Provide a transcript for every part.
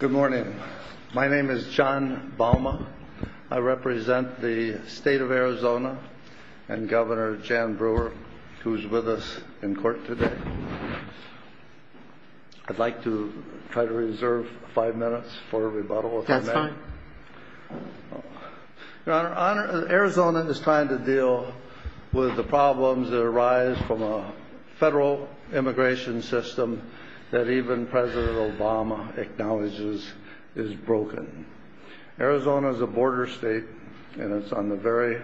Good morning. My name is John Balma. I represent the State of Arizona and Governor Jan Brewer, who's with us in court today. I'd like to try to reserve five minutes for a rebuttal if I may. That's fine. Your Honor, Arizona is trying to deal with the problems that arise from a federal immigration system that even President Obama acknowledges is broken. Arizona is a border state and it's on the very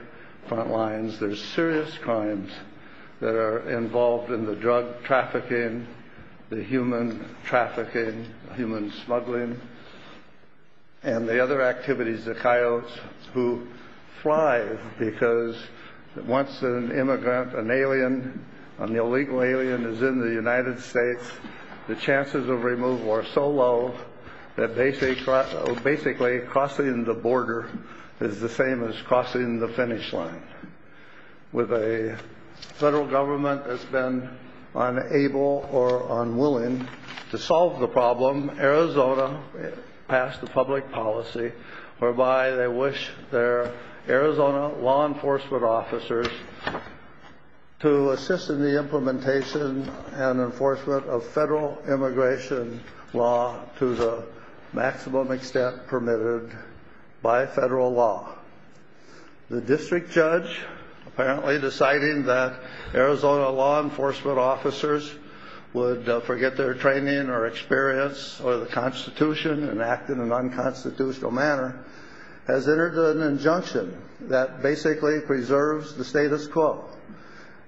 front lines. There's serious crimes that are involved in the drug trafficking, the human trafficking, human smuggling, and the other activities, the coyotes who fly. Because once an immigrant, an alien, an illegal alien is in the United States, the chances of removal are so low that basically crossing the border is the same as crossing the finish line. With a federal government that's been unable or unwilling to solve the problem, Arizona passed a public policy whereby they wish their Arizona law enforcement officers to assist in the implementation and enforcement of federal immigration law to the maximum extent permitted by federal law. The district judge, apparently deciding that Arizona law enforcement officers would forget their training or experience or the Constitution and act in an unconstitutional manner, has entered an injunction that basically preserves the status quo.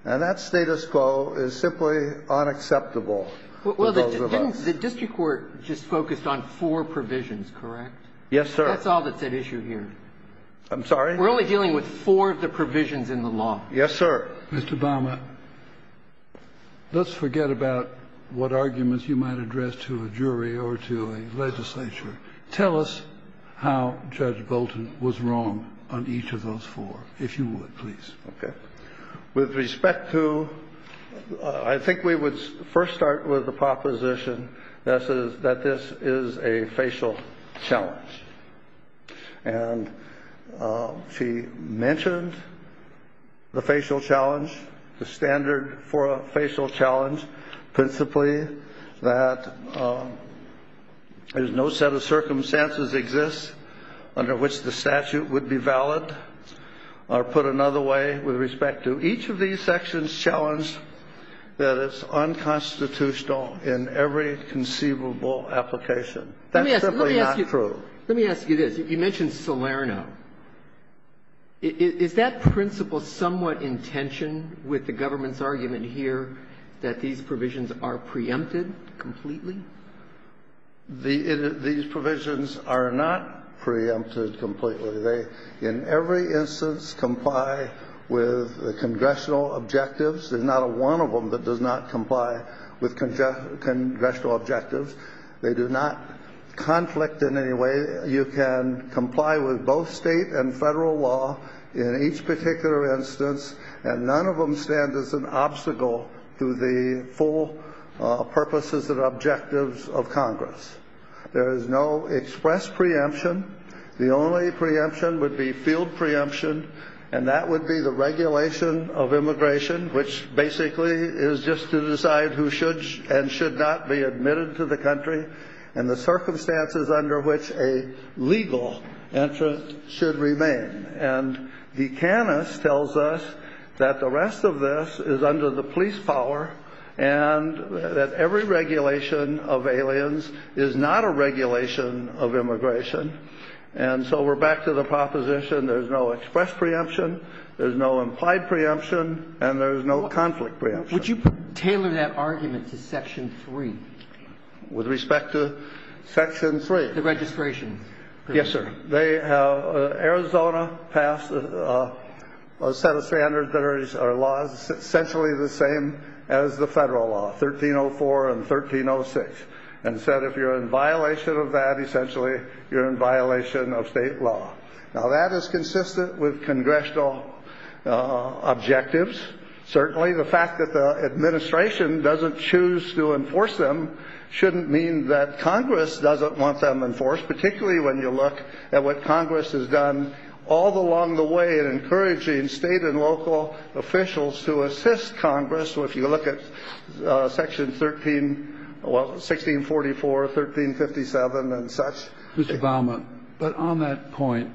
And that status quo is simply unacceptable. Well, the district court just focused on four provisions, correct? Yes, sir. That's all that's at issue here. I'm sorry? We're only dealing with four of the provisions in the law. Yes, sir. Mr. Obama, let's forget about what arguments you might address to a jury or to a legislature. Tell us how Judge Bolton was wrong on each of those four, if you would, please. Okay. With respect to, I think we would first start with the proposition that this is a facial challenge. And she mentioned the facial challenge, the standard for a facial challenge, principally that there's no set of circumstances exist under which the statute would be valid, or put another way, with respect to each of these sections challenged that it's unconstitutional in every conceivable application. That's simply not true. Let me ask you this. You mentioned Salerno. Is that principle somewhat in tension with the government's argument here that these provisions are preempted completely? These provisions are not preempted completely. They, in every instance, comply with the congressional objectives. There's not one of them that does not comply with congressional objectives. They do not conflict in any way. You can comply with both state and federal law in each particular instance, and none of them stand as an obstacle to the full purposes and objectives of Congress. There is no express preemption. The only preemption would be field preemption, and that would be the regulation of immigration, which basically is just to decide who should and should not be admitted to the country and the circumstances under which a legal entrant should remain. And De Canis tells us that the rest of this is under the police power and that every regulation of aliens is not a regulation of immigration. And so we're back to the proposition there's no express preemption, there's no implied preemption, and there's no conflict preemption. Would you tailor that argument to Section 3? With respect to Section 3? The registration. Yes, sir. Arizona passed a set of standards that are essentially the same as the federal law, 1304 and 1306, and said if you're in violation of that, essentially, you're in violation of state law. Now, that is consistent with congressional objectives. Certainly, the fact that the administration doesn't choose to enforce them shouldn't mean that Congress doesn't want them enforced, particularly when you look at what Congress has done all along the way in encouraging state and local officials to assist Congress. So if you look at Section 13, well, 1644, 1357, and such. Mr. Baumann, but on that point,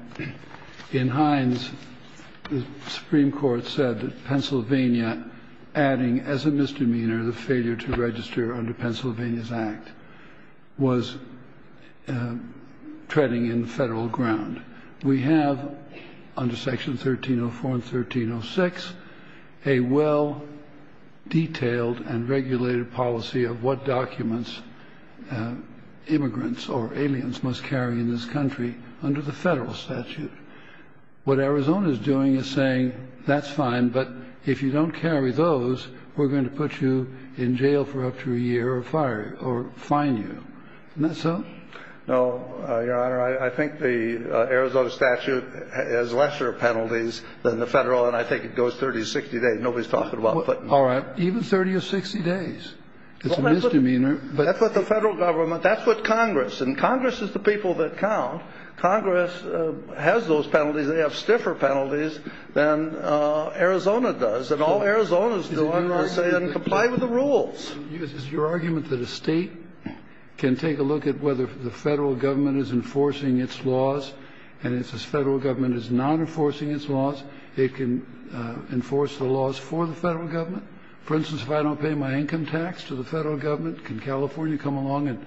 in Hines, the Supreme Court said that Pennsylvania, adding as a misdemeanor the failure to register under Pennsylvania's act, was treading in federal ground. We have, under Section 1304 and 1306, a well-detailed and regulated policy of what documents immigrants or aliens must carry in this country under the federal statute. What Arizona is doing is saying that's fine, but if you don't carry those, we're going to put you in jail for up to a year or fire you or fine you. Isn't that so? No, Your Honor. I think the Arizona statute has lesser penalties than the federal, and I think it goes 30 to 60 days. Nobody's talking about putting you in jail. All right. Even 30 or 60 days. It's a misdemeanor. That's what the federal government, that's what Congress, and Congress is the people that count. Congress has those penalties. They have stiffer penalties than Arizona does. And all Arizona's doing is saying comply with the rules. Is your argument that a state can take a look at whether the federal government is enforcing its laws, and if the federal government is not enforcing its laws, it can enforce the laws for the federal government? For instance, if I don't pay my income tax to the federal government, can California come along and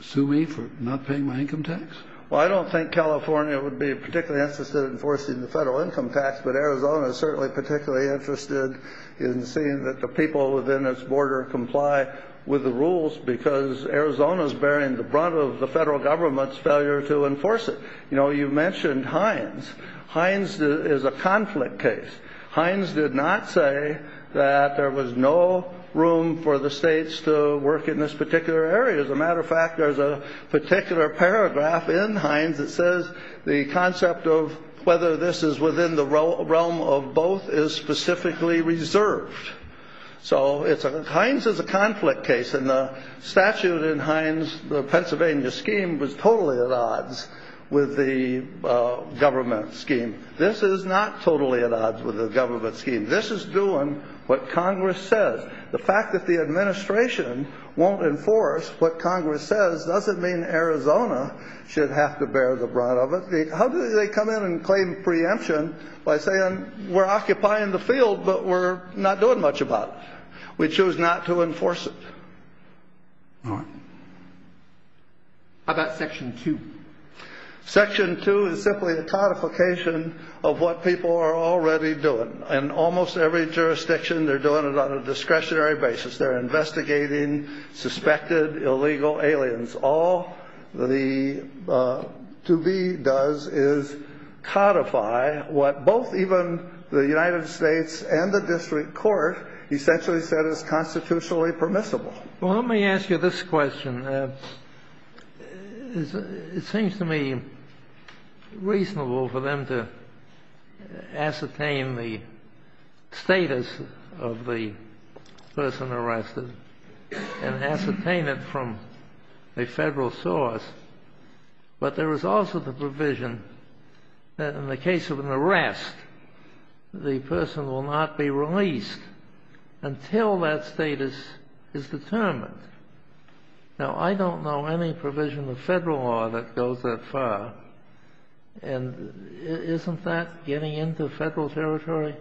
sue me for not paying my income tax? Well, I don't think California would be particularly interested in enforcing the federal income tax, but Arizona is certainly particularly interested in seeing that the people within its border comply with the rules because Arizona is bearing the brunt of the federal government's failure to enforce it. You know, you mentioned Hines. Hines is a conflict case. Hines did not say that there was no room for the states to work in this particular area. As a matter of fact, there's a particular paragraph in Hines that says the concept of whether this is within the realm of both is specifically reserved. So Hines is a conflict case, and the statute in Hines, the Pennsylvania scheme, was totally at odds with the government scheme. This is not totally at odds with the government scheme. This is doing what Congress says. The fact that the administration won't enforce what Congress says doesn't mean Arizona should have to bear the brunt of it. How do they come in and claim preemption by saying we're occupying the field but we're not doing much about it? We choose not to enforce it. All right. How about Section 2? Section 2 is simply a codification of what people are already doing. In almost every jurisdiction, they're doing it on a discretionary basis. They're investigating suspected illegal aliens. All the 2B does is codify what both even the United States and the district court essentially said is constitutionally permissible. Well, let me ask you this question. It seems to me reasonable for them to ascertain the status of the person arrested and ascertain it from a Federal source. But there is also the provision that in the case of an arrest, the person will not be released until that status is determined. Now, I don't know any provision of Federal law that goes that far. And isn't that getting into Federal territory?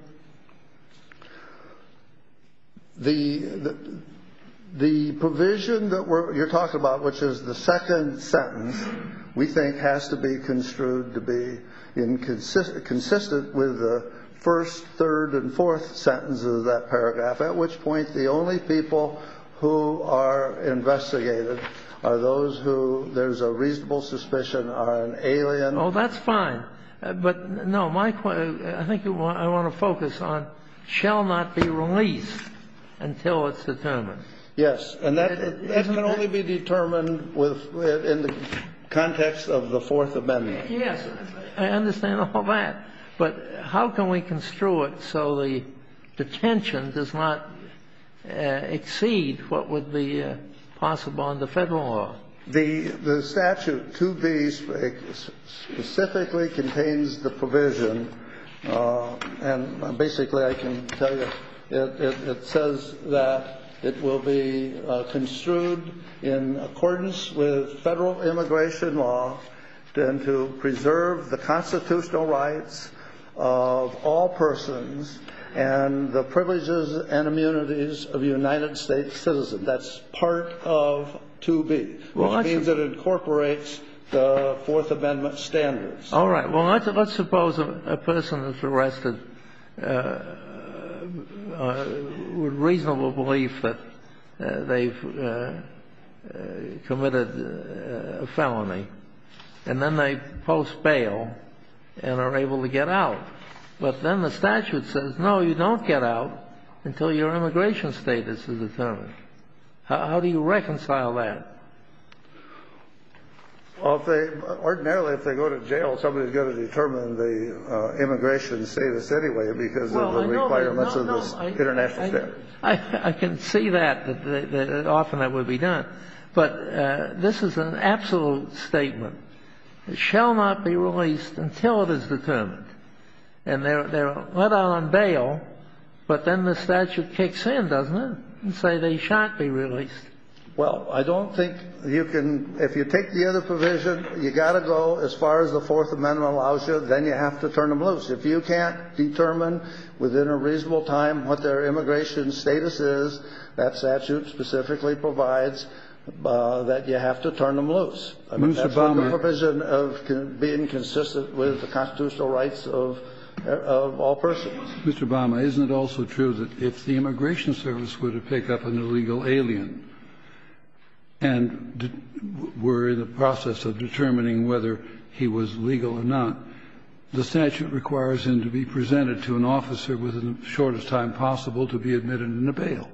The provision that you're talking about, which is the second sentence, we think has to be construed to be consistent with the first, third, and fourth sentences of that paragraph, at which point the only people who are investigated are those who there's a reasonable suspicion are an alien. Oh, that's fine. But, no, I think I want to focus on shall not be released until it's determined. Yes. And that can only be determined in the context of the Fourth Amendment. Yes. I understand all that. But how can we construe it so the detention does not exceed what would be possible under Federal law? The statute, 2B, specifically contains the provision. And basically, I can tell you, it says that it will be construed in accordance with Federal immigration law and to preserve the constitutional rights of all persons and the privileges and immunities of a United States citizen. That's part of 2B, which means it incorporates the Fourth Amendment standards. All right. Well, let's suppose a person is arrested with reasonable belief that they've committed a felony. And then they post bail and are able to get out. But then the statute says, no, you don't get out until your immigration status is determined. How do you reconcile that? Well, ordinarily, if they go to jail, somebody is going to determine the immigration status anyway because of the requirements of this international statute. I can see that, that often that would be done. But this is an absolute statement. It shall not be released until it is determined. And they're let out on bail, but then the statute kicks in, doesn't it, and say they shan't be released. Well, I don't think you can ñ if you take the other provision, you've got to go as far as the Fourth Amendment allows you, then you have to turn them loose. If you can't determine within a reasonable time what their immigration status is, that statute specifically provides that you have to turn them loose. That's the provision of being consistent with the constitutional rights of all persons. Mr. Bama, isn't it also true that if the Immigration Service were to pick up an illegal alien and were in the process of determining whether he was legal or not, the statute requires him to be presented to an officer within the shortest time possible to be admitted into bail?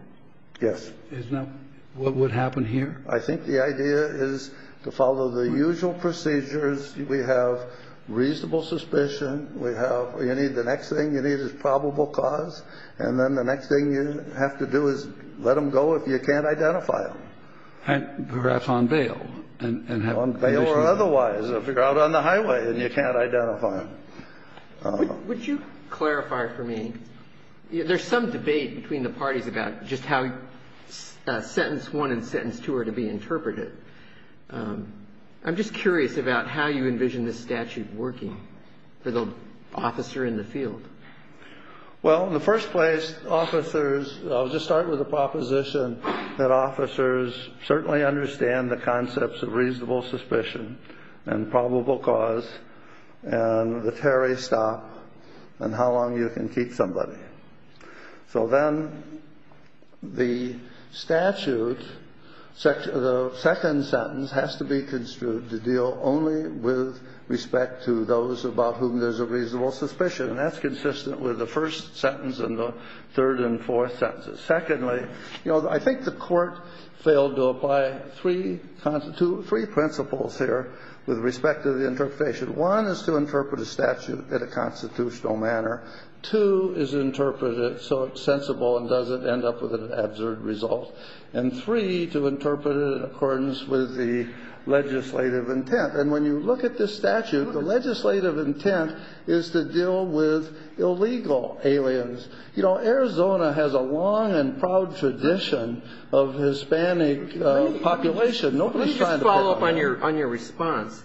Yes. Isn't that what would happen here? I think the idea is to follow the usual procedures. We have reasonable suspicion. We have ñ you need ñ the next thing you need is probable cause. And then the next thing you have to do is let them go if you can't identify them. Perhaps on bail and have them released. On bail or otherwise. If they're out on the highway and you can't identify them. Would you clarify for me ñ there's some debate between the parties about just how sentence 1 and sentence 2 are to be interpreted. I'm just curious about how you envision this statute working for the officer in the field. Well, in the first place, officers ñ I'll just start with the proposition that officers certainly understand the concepts of reasonable suspicion and probable cause and the Terry stop and how long you can keep somebody. So then the statute, the second sentence, has to be construed to deal only with respect to those about whom there's a reasonable suspicion. And that's consistent with the first sentence and the third and fourth sentences. Secondly, you know, I think the Court failed to apply three principles here with respect to the interpretation. One is to interpret a statute in a constitutional manner. Two is to interpret it so it's sensible and doesn't end up with an absurd result. And three, to interpret it in accordance with the legislative intent. And when you look at this statute, the legislative intent is to deal with illegal aliens. You know, Arizona has a long and proud tradition of Hispanic population. Nobody's trying to pick on them. Now, in the case of an arrest, if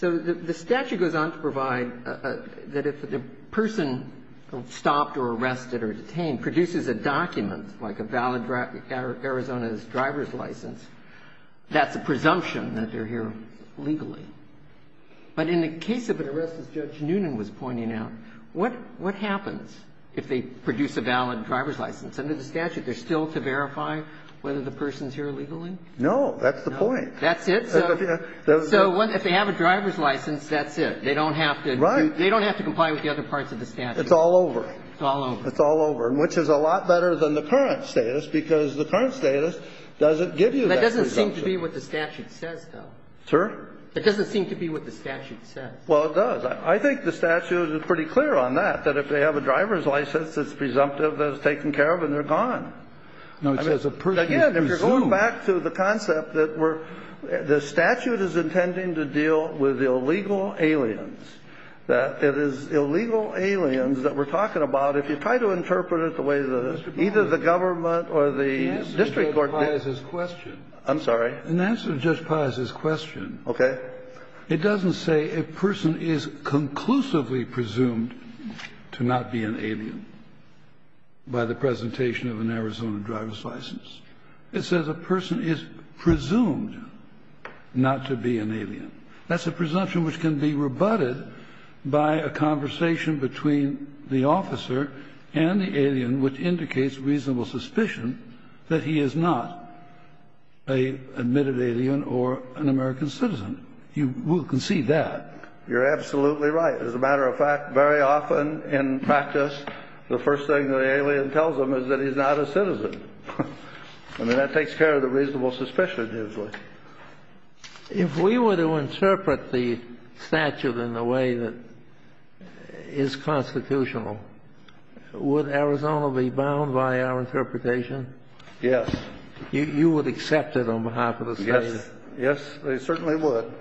you look at the statute, the statute goes on to provide that if the person stopped or arrested or detained produces a document like a valid Arizona's driver's license, that's a presumption that they're here legally. But in the case of an arrest, as Judge Noonan was pointing out, what happens if they have a driver's license, that's it. They don't have to comply with the other parts of the statute. It's all over. It's all over. It's all over, which is a lot better than the current status, because the current status doesn't give you that presumption. That doesn't seem to be what the statute says, though. Sir? It doesn't seem to be what the statute says. Well, it does. I think the statute is pretty clear on that, that if they have a driver's license, it's presumptive, it's taken care of, and they're gone. No, it says a presumption. Again, if you're going back to the concept that we're the statute is intending to deal with illegal aliens, that it is illegal aliens that we're talking about, if you try to interpret it the way that either the government or the district court does. The answer to Judge Paz's question. I'm sorry? The answer to Judge Paz's question. Okay. It doesn't say a person is conclusively presumed to not be an alien by the presentation of an Arizona driver's license. It says a person is presumed not to be an alien. That's a presumption which can be rebutted by a conversation between the officer and the alien, which indicates reasonable suspicion that he is not an admitted alien or an American citizen. You will concede that. You're absolutely right. As a matter of fact, very often in practice, the first thing that an alien tells them is that he's not a citizen. I mean, that takes care of the reasonable suspicion usually. If we were to interpret the statute in the way that is constitutional, would Arizona be bound by our interpretation? Yes. You would accept it on behalf of the state? Yes. Yes, they certainly would.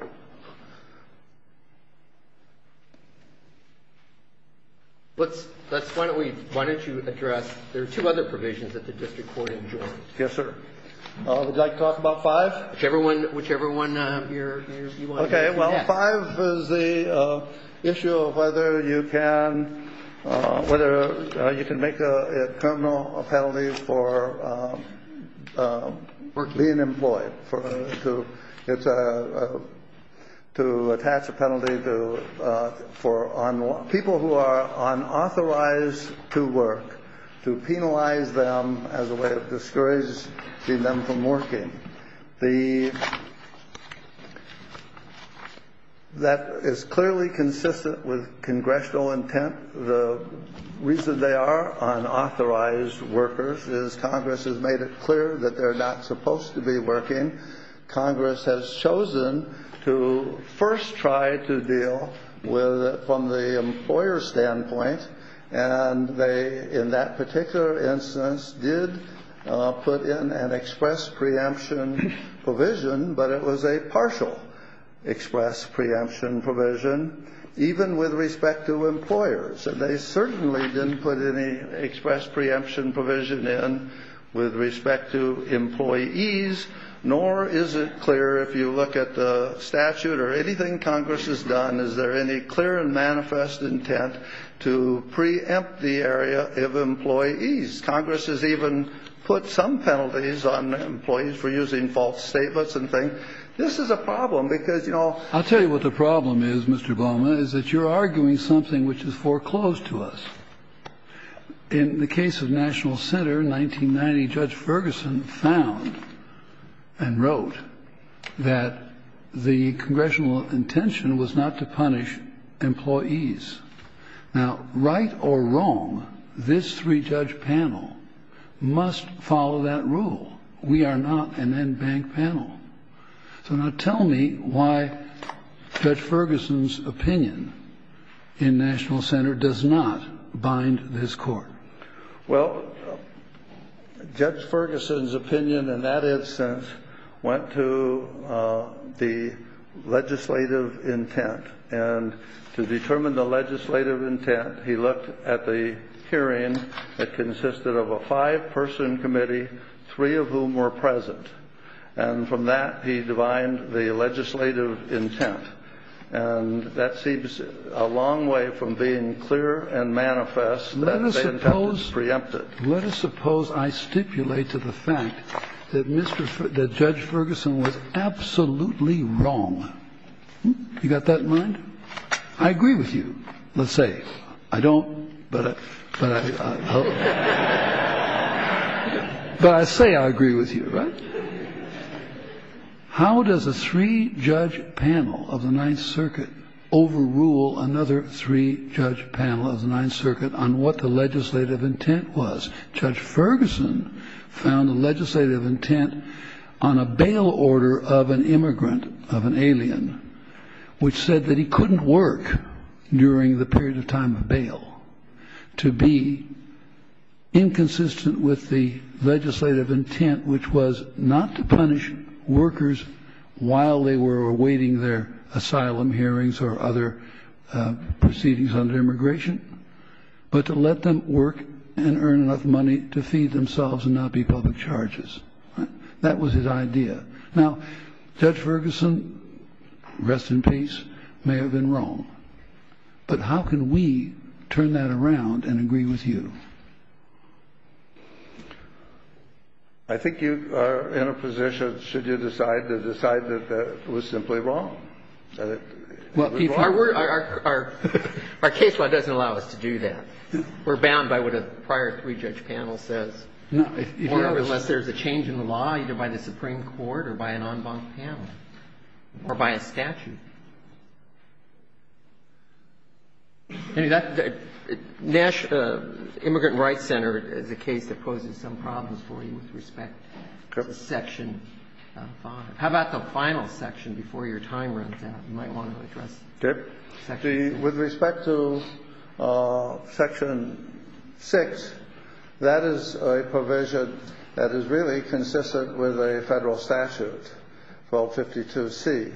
Let's finally, why don't you address, there are two other provisions that the district court enjoys. Yes, sir. Would you like to talk about five? Whichever one you want to address. Okay. Well, five is the issue of whether you can make a criminal penalty for being employed. It's to attach a penalty for people who are unauthorized to work, to penalize them as a way of discouraging them from working. That is clearly consistent with congressional intent. The reason they are unauthorized workers is Congress has made it clear that they're not supposed to be working. Congress has chosen to first try to deal from the employer's standpoint, and they, in that particular instance, did put in an express preemption provision, but it was a partial express preemption provision, even with respect to employers. And they certainly didn't put any express preemption provision in with respect to employees, nor is it clear, if you look at the statute or anything Congress has done, is there any clear and manifest intent to preempt the area of employees. Congress has even put some penalties on employees for using false statements and things. This is a problem, because, you know ---- You're arguing something which is foreclosed to us. In the case of National Center, 1990, Judge Ferguson found and wrote that the congressional intention was not to punish employees. Now, right or wrong, this three-judge panel must follow that rule. We are not an en banc panel. So now tell me why Judge Ferguson's opinion in National Center does not bind this court. Well, Judge Ferguson's opinion in that instance went to the legislative intent, and to determine the legislative intent, he looked at the hearing that consisted of a five-person committee, three of whom were present. And from that, he divined the legislative intent. And that seems a long way from being clear and manifest that the intent was preempted. Let us suppose I stipulate to the fact that Mr. ---- that Judge Ferguson was absolutely wrong. You got that in mind? I agree with you, let's say. I don't, but I ---- But I say I agree with you, right? How does a three-judge panel of the Ninth Circuit overrule another three-judge panel of the Ninth Circuit on what the legislative intent was? Judge Ferguson found the legislative intent on a bail order of an immigrant, of an alien, which said that he couldn't work during the period of time of bail to be inconsistent with the legislative intent, which was not to punish workers while they were awaiting their asylum hearings or other proceedings under immigration, but to let them work and earn enough money to feed themselves and not be public charges. That was his idea. Now, Judge Ferguson, rest in peace, may have been wrong. But how can we turn that around and agree with you? I think you are in a position, should you decide, to decide that that was simply wrong. Our case law doesn't allow us to do that. We're bound by what a prior three-judge panel says. Unless there's a change in the law either by the Supreme Court or by an en banc panel or by a statute. National Immigrant Rights Center is a case that poses some problems for you with respect to Section 5. How about the final section before your time runs out? You might want to address Section 5. With respect to Section 6, that is a provision that is really consistent with a federal statute, 1252c.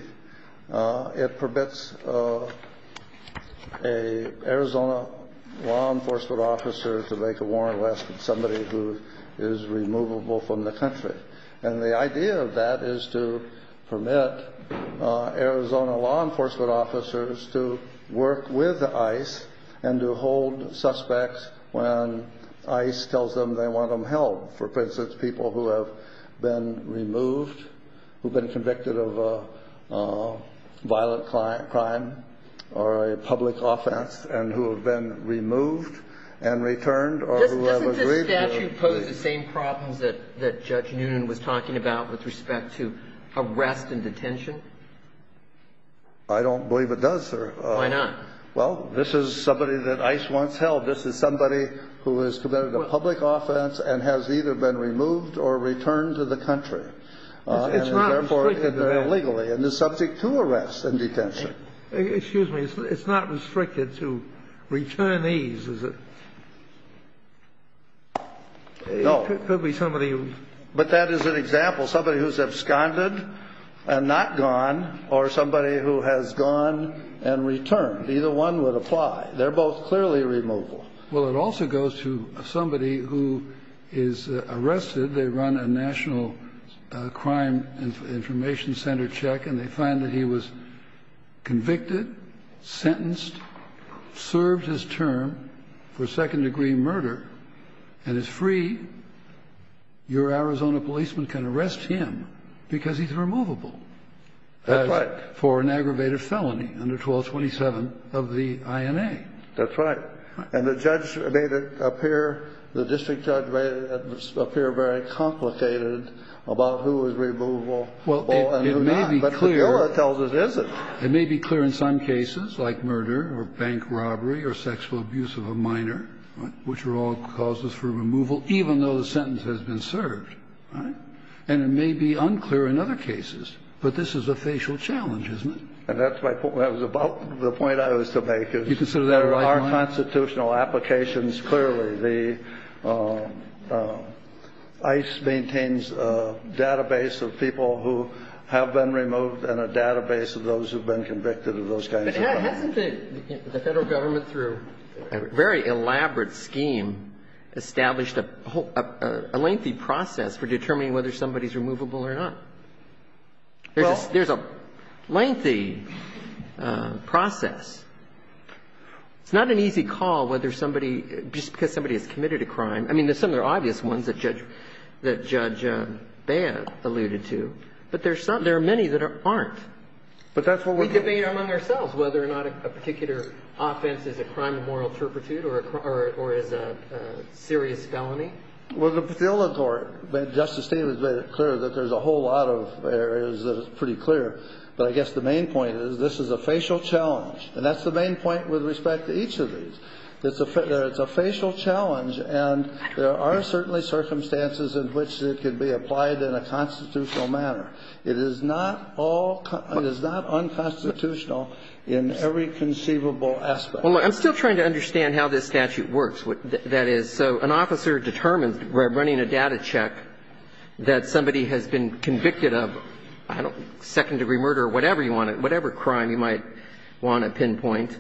It permits an Arizona law enforcement officer to make a warrant less than somebody who is removable from the country. And the idea of that is to permit Arizona law enforcement officers to work with ICE and to hold suspects when ICE tells them they want them held. For instance, people who have been removed, who have been convicted of a violent crime or a public offense and who have been removed and returned or who have agreed to. Are those the same problems that Judge Noonan was talking about with respect to arrest and detention? I don't believe it does, sir. Why not? Well, this is somebody that ICE wants held. This is somebody who has committed a public offense and has either been removed or returned to the country. It's not restricted to that. And, therefore, illegally and is subject to arrest and detention. Excuse me. It's not restricted to returnees, is it? No. It could be somebody. But that is an example. Somebody who's absconded and not gone or somebody who has gone and returned. Either one would apply. They're both clearly removable. Well, it also goes to somebody who is arrested. They run a national crime information center check, and they find that he was convicted, sentenced, served his term for second-degree murder, and is free. Your Arizona policeman can arrest him because he's removable. That's right. For an aggravated felony under 1227 of the INA. That's right. And the judge made it appear the district judge made it appear very complicated about who was removable and who not. But the juror tells us it isn't. It may be clear in some cases, like murder or bank robbery or sexual abuse of a minor, which are all causes for removal, even though the sentence has been served. And it may be unclear in other cases. But this is a facial challenge, isn't it? And that's my point. That was about the point I was to make. You consider that a right one? There are constitutional applications, clearly. The ICE maintains a database of people who have been removed and a database of those who have been convicted of those kinds of crimes. But hasn't the Federal Government, through a very elaborate scheme, established a lengthy process for determining whether somebody is removable or not? There's a lengthy process. It's not an easy call whether somebody, just because somebody has committed a crime – I mean, there's some that are obvious ones that Judge Baird alluded to. But there are many that aren't. We debate among ourselves whether or not a particular offense is a crime of moral turpitude or is a serious felony. Well, the Illinois court, Justice Davis made it clear that there's a whole lot of areas that are pretty clear. But I guess the main point is this is a facial challenge. And that's the main point with respect to each of these. It's a facial challenge, and there are certainly circumstances in which it could be applied in a constitutional manner. It is not all – it is not unconstitutional in every conceivable aspect. Well, I'm still trying to understand how this statute works. That is, so an officer determines by running a data check that somebody has been convicted of a crime, and they're going to be charged with a crime of moral turpitude or a crime of moral turpitude, or whatever you want to – whatever crime you might want to pinpoint.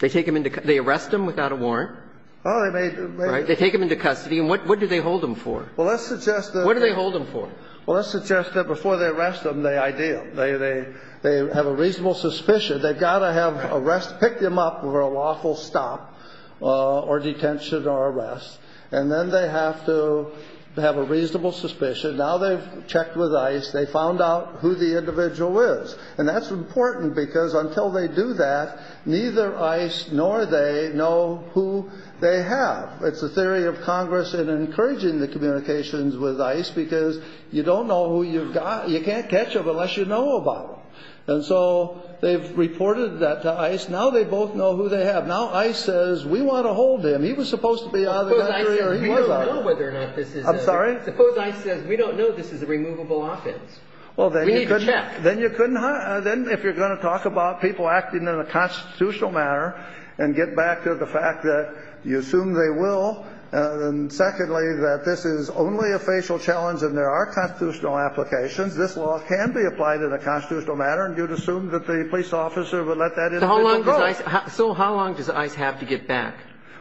They take them into – they arrest them without a warrant? They take them into custody. And what do they hold them for? Well, let's suggest that they – What do they hold them for? Well, let's suggest that before they arrest them, they ID them. They have a reasonable suspicion. They've got to have arrest – pick them up for a lawful stop or detention or arrest. And then they have to have a reasonable suspicion. Now they've checked with ICE. They found out who the individual is. And that's important, because until they do that, neither ICE nor they know who they have. It's the theory of Congress in encouraging the communications with ICE, because you don't know who you've got. You can't catch them unless you know about them. And so they've reported that to ICE. Now they both know who they have. Now ICE says, we want to hold him. He was supposed to be out of the country or he was out. Suppose ICE says, we don't know whether or not this is a – I'm sorry? Suppose ICE says, we don't know this is a removable offense. Well, then you couldn't – We need to check. Then you couldn't – then if you're going to talk about people acting in a constitutional manner and get back to the fact that you assume they will, and secondly, that this is only a facial challenge and there are constitutional applications, this law can be applied in a constitutional manner and you'd assume that the police officer would let that individual go. So how long does ICE have to get back?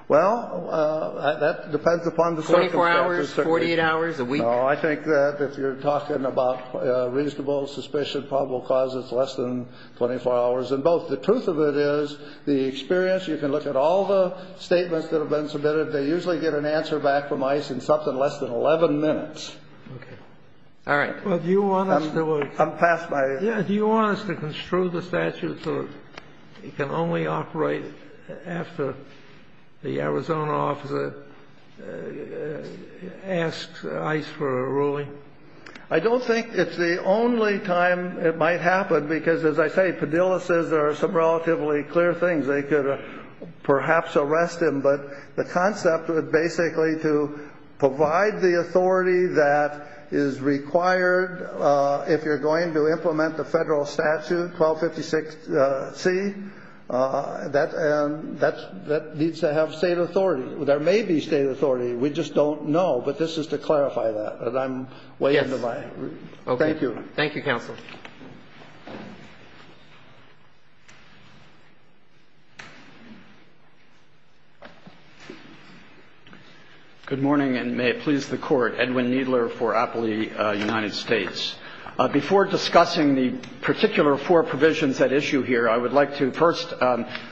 Well, that depends upon the circumstances. 24 hours? 48 hours? A week? No, I think that if you're talking about reasonable suspicion, probable cause, it's less than 24 hours in both. The truth of it is the experience – you can look at all the statements that have been submitted. They usually get an answer back from ICE in something less than 11 minutes. Okay. All right. Well, do you want us to – I'm past my – Yeah. Do you want us to construe the statute so it can only operate after the Arizona officer asks ICE for a ruling? I don't think it's the only time it might happen because, as I say, Padilla says there are some relatively clear things. They could perhaps arrest him. But the concept is basically to provide the authority that is required if you're going to implement the federal statute, 1256C. That needs to have state authority. There may be state authority. We just don't know. But this is to clarify that. And I'm way into my – Yes. Okay. Thank you. Thank you, Counsel. Good morning, and may it please the Court. Edwin Kneedler for Appley United States. Before discussing the particular four provisions at issue here, I would like to first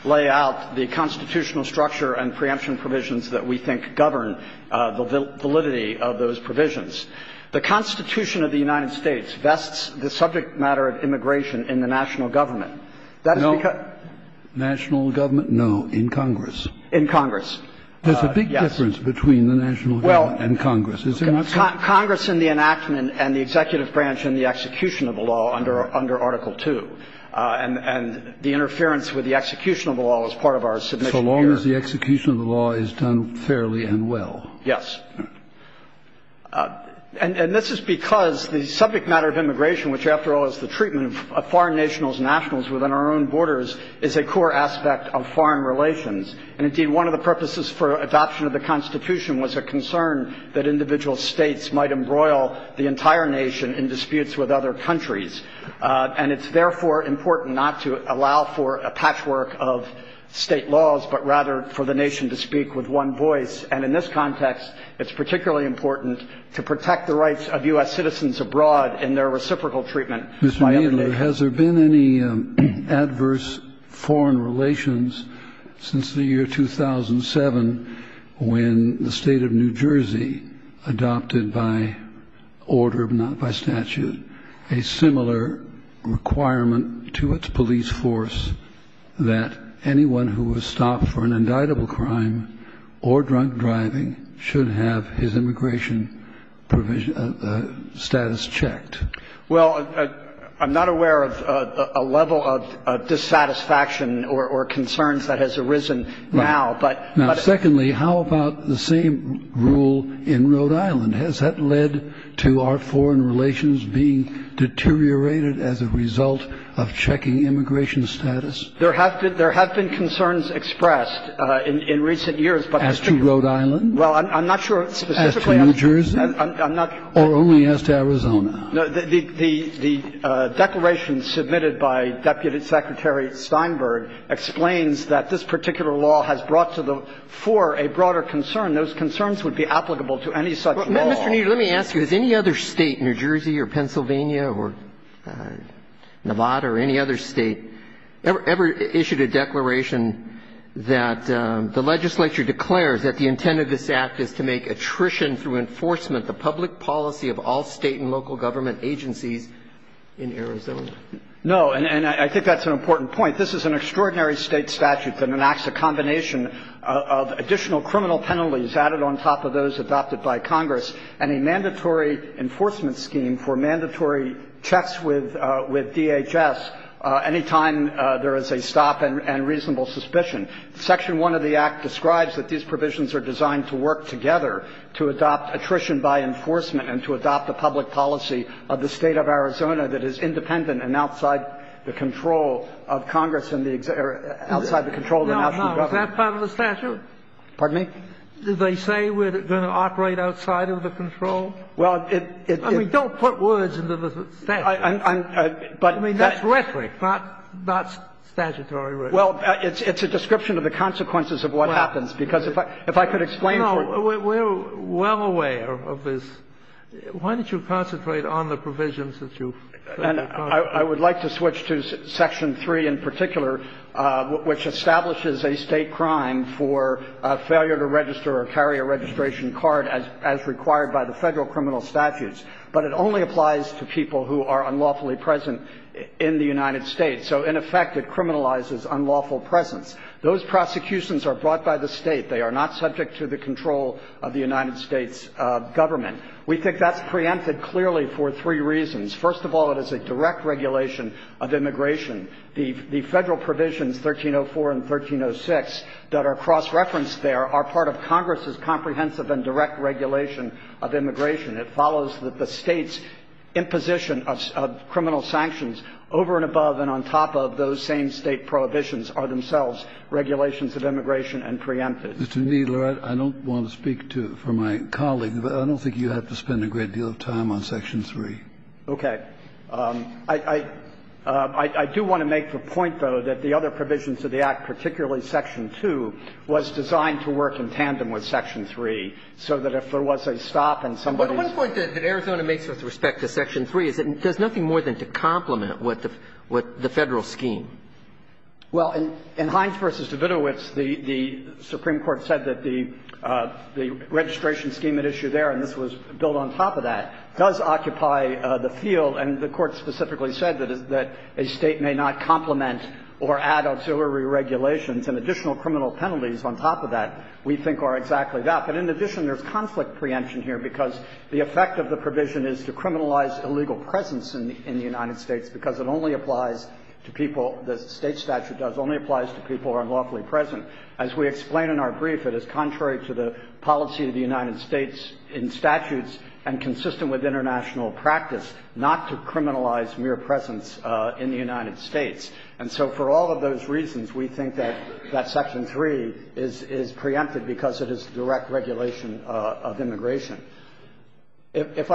lay out the constitutional structure and preemption provisions that we think govern the validity of those provisions. The Constitution of the United States vests the subject matter of immigration in the national government. That's because – No. National government? No. In Congress. In Congress. Yes. There's a big difference between the national government and Congress. Well, Congress in the enactment and the executive branch in the execution of the law under Article II. And the interference with the execution of the law is part of our submission So long as the execution of the law is done fairly and well. Yes. And this is because the subject matter of immigration, which, after all, is the treatment of foreign nationals and nationals within our own borders, is a core aspect of foreign relations. And, indeed, one of the purposes for adoption of the Constitution was a concern that individual states might embroil the entire nation in disputes with other countries. And it's, therefore, important not to allow for a patchwork of state laws, but rather for the nation to speak with one voice. And, in this context, it's particularly important to protect the rights of U.S. citizens abroad in their reciprocal treatment by other nations. Mr. Manley, has there been any adverse foreign relations since the year 2007 when the state of New Jersey adopted by order, but not by statute, a similar requirement to its police force that anyone who was stopped for an inappropriate driving should have his immigration status checked? Well, I'm not aware of a level of dissatisfaction or concerns that has arisen now. Now, secondly, how about the same rule in Rhode Island? Has that led to our foreign relations being deteriorated as a result of checking immigration status? There have been concerns expressed in recent years. As to Rhode Island? Well, I'm not sure specifically. As to New Jersey? I'm not sure. Or only as to Arizona? The declaration submitted by Deputy Secretary Steinberg explains that this particular law has brought to the fore a broader concern. Those concerns would be applicable to any such law. Mr. Kneedler, let me ask you. Has any other state, New Jersey or Pennsylvania or Nevada or any other state, ever issued a declaration that the legislature declares that the intent of this Act is to make attrition through enforcement the public policy of all state and local government agencies in Arizona? No. And I think that's an important point. This is an extraordinary state statute that enacts a combination of additional enforcement scheme for mandatory checks with DHS any time there is a stop and reasonable suspicion. Section 1 of the Act describes that these provisions are designed to work together to adopt attrition by enforcement and to adopt the public policy of the State of Arizona that is independent and outside the control of Congress and outside the control of the national government. Is that part of the statute? Pardon me? Do they say we're going to operate outside of the control? I mean, don't put words into the statute. I mean, that's rhetoric, not statutory rhetoric. Well, it's a description of the consequences of what happens, because if I could explain for you. No. We're well aware of this. Why don't you concentrate on the provisions that you've provided? I would like to switch to Section 3 in particular, which establishes a state crime for failure to register or carry a registration card as required by the federal criminal statutes. But it only applies to people who are unlawfully present in the United States. So, in effect, it criminalizes unlawful presence. Those prosecutions are brought by the state. They are not subject to the control of the United States government. We think that's preempted clearly for three reasons. First of all, it is a direct regulation of immigration. The Federal provisions 1304 and 1306 that are cross-referenced there are part of Congress's comprehensive and direct regulation of immigration. It follows that the State's imposition of criminal sanctions over and above and on top of those same State prohibitions are themselves regulations of immigration and preempted. Mr. Kneedler, I don't want to speak for my colleague, but I don't think you have to spend a great deal of time on Section 3. Okay. I do want to make the point, though, that the other provisions of the Act, particularly Section 2, was designed to work in tandem with Section 3, so that if there was a stop and somebody's ---- But one point that Arizona makes with respect to Section 3 is that it does nothing more than to complement what the Federal scheme. Well, in Hines v. Davidovitz, the Supreme Court said that the registration scheme at issue there, and this was built on top of that, does occupy the field. And the Court specifically said that a State may not complement or add auxiliary regulations, and additional criminal penalties on top of that we think are exactly that. But in addition, there's conflict preemption here, because the effect of the provision is to criminalize illegal presence in the United States, because it only applies to people the State statute does, only applies to people who are lawfully present. As we explain in our brief, it is contrary to the policy of the United States in statutes and consistent with international practice not to criminalize mere presence in the United States. And so for all of those reasons, we think that Section 3 is preempted, because it is direct regulation of immigration. If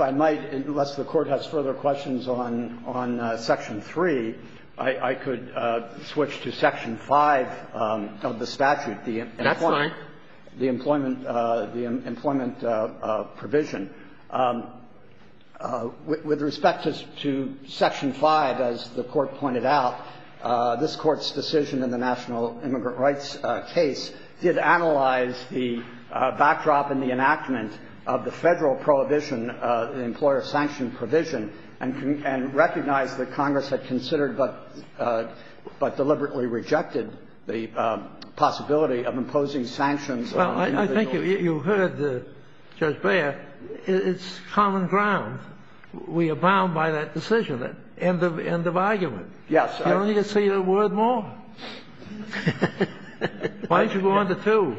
I might, unless the Court has further questions on Section 3, I could switch to Section 5 of the statute, the employment provision. With respect to Section 5, as the Court pointed out, this Court's decision in the National Immigrant Rights case did analyze the backdrop in the enactment of the Federal prohibition, the employer-sanctioned provision, and recognized that Congress had considered but deliberately rejected the possibility of imposing sanctions on individuals. Well, I think you heard Judge Beyer. It's common ground. We abound by that decision. End of argument. Yes. You don't need to say that word more. Why don't you go on to 2?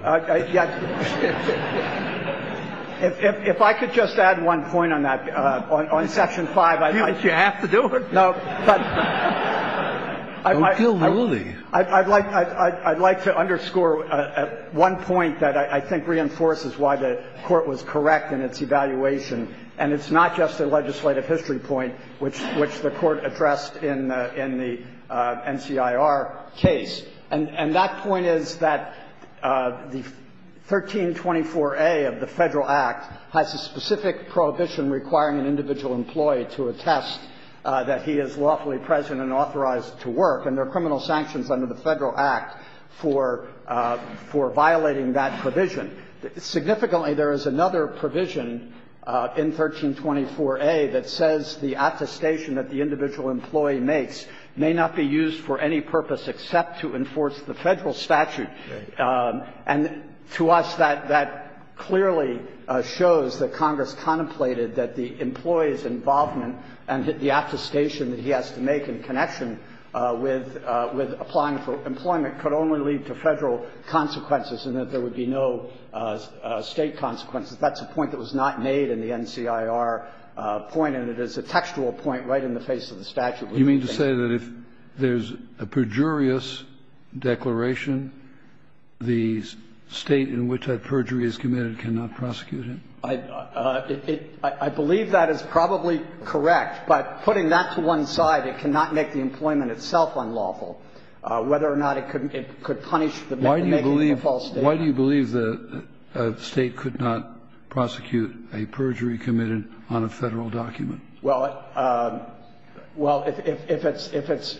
If I could just add one point on that. On Section 5, I might. You have to do it. No, but I'd like to underscore one point that I think reinforces why the Court was correct in its evaluation, and it's not just a legislative history point, which the Court addressed in the NCIR case. And that point is that the 1324a of the Federal Act has a specific prohibition requiring an individual employee to attest that he is lawfully present and authorized to work, and there are criminal sanctions under the Federal Act for violating that provision. Significantly, there is another provision in 1324a that says the attestation that the individual employee makes may not be used for any purpose except to enforce the Federal statute. And to us, that clearly shows that Congress contemplated that the employee's involvement and the attestation that he has to make in connection with applying for employment could only lead to Federal consequences and that there would be no State consequences. That's a point that was not made in the NCIR point, and it is a textual point right in the face of the statute. Kennedy, you mean to say that if there's a perjurious declaration, the State in which that perjury is committed cannot prosecute it? I believe that is probably correct, but putting that to one side, it cannot make the employment itself unlawful, whether or not it could punish the making of a false statement. Why do you believe that a State could not prosecute a perjury committed on a Federal document? Well, if it's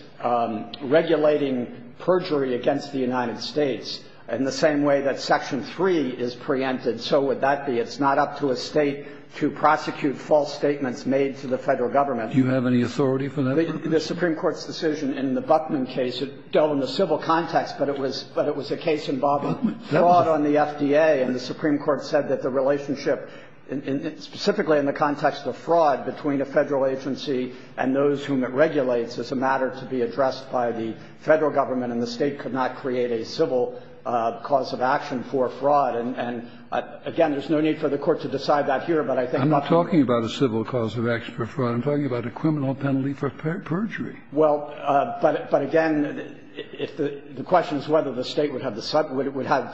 regulating perjury against the United States in the same way that Section 3 is preempted, so would that be. It's not up to a State to prosecute false statements made to the Federal government. Do you have any authority for that? The Supreme Court's decision in the Buckman case, it dealt in the civil context, but it was a case involving fraud on the FDA. And the Supreme Court said that the relationship, specifically in the context of fraud between a Federal agency and those whom it regulates, is a matter to be addressed by the Federal government, and the State could not create a civil cause of action for fraud. And, again, there's no need for the Court to decide that here, but I think that's not true. I'm not talking about a civil cause of action for fraud. I'm talking about a criminal penalty for perjury. Well, but again, the question is whether the State would have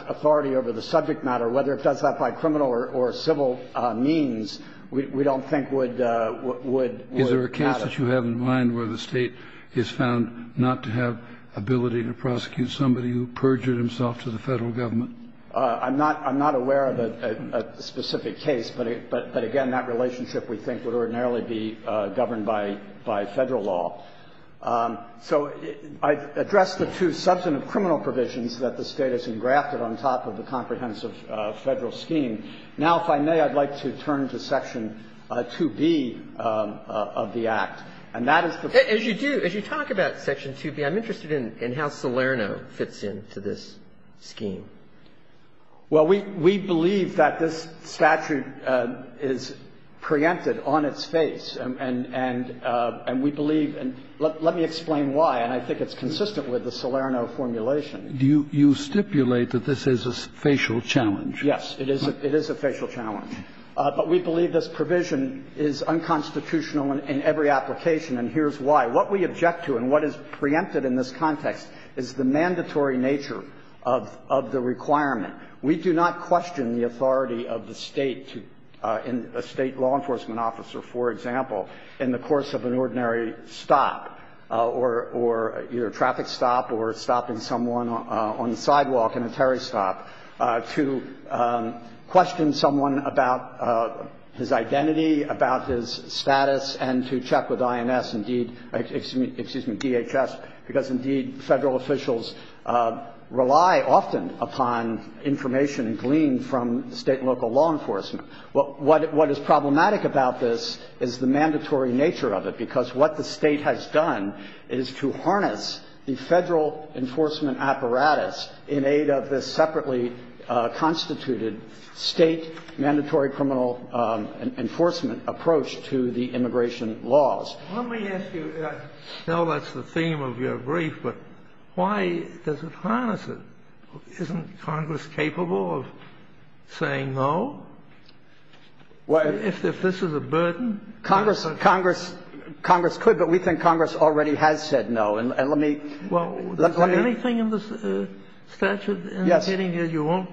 authority over the subject matter, whether it does that by criminal or civil means, we don't think would have it. Is there a case that you have in mind where the State is found not to have ability to prosecute somebody who perjured himself to the Federal government? I'm not aware of a specific case, but, again, that relationship, we think, would ordinarily be governed by Federal law. So I've addressed the two substantive criminal provisions that the State has engrafted on top of the comprehensive Federal scheme. Now, if I may, I'd like to turn to section 2B of the Act, and that is the question that's being asked. As you do, as you talk about section 2B, I'm interested in how Salerno fits in to this scheme. Well, we believe that this statute is preempted on its face, and we believe and let me explain why, and I think it's consistent with the Salerno formulation. Do you stipulate that this is a facial challenge? Yes, it is a facial challenge. But we believe this provision is unconstitutional in every application, and here's why. What we object to and what is preempted in this context is the mandatory nature of the requirement. We do not question the authority of the State to – a State law enforcement officer, for example, in the course of an ordinary stop or either a traffic stop or stopping someone on the sidewalk in a terry stop, to question someone about his identity, about his status, and to check with INS, excuse me, DHS, because indeed, Federal officials rely often upon information gleaned from State and local law enforcement. What is problematic about this is the mandatory nature of it, because what the Federal law enforcement officer is doing is using the State's mandatory criminal enforcement apparatus in aid of this separately constituted State mandatory criminal enforcement approach to the immigration laws. Let me ask you – I know that's the theme of your brief, but why does it harness it? Isn't Congress capable of saying no, if this is a burden? Congress could, but we think Congress already has said no. And let me – Well, is there anything in the statute in the heading that you won't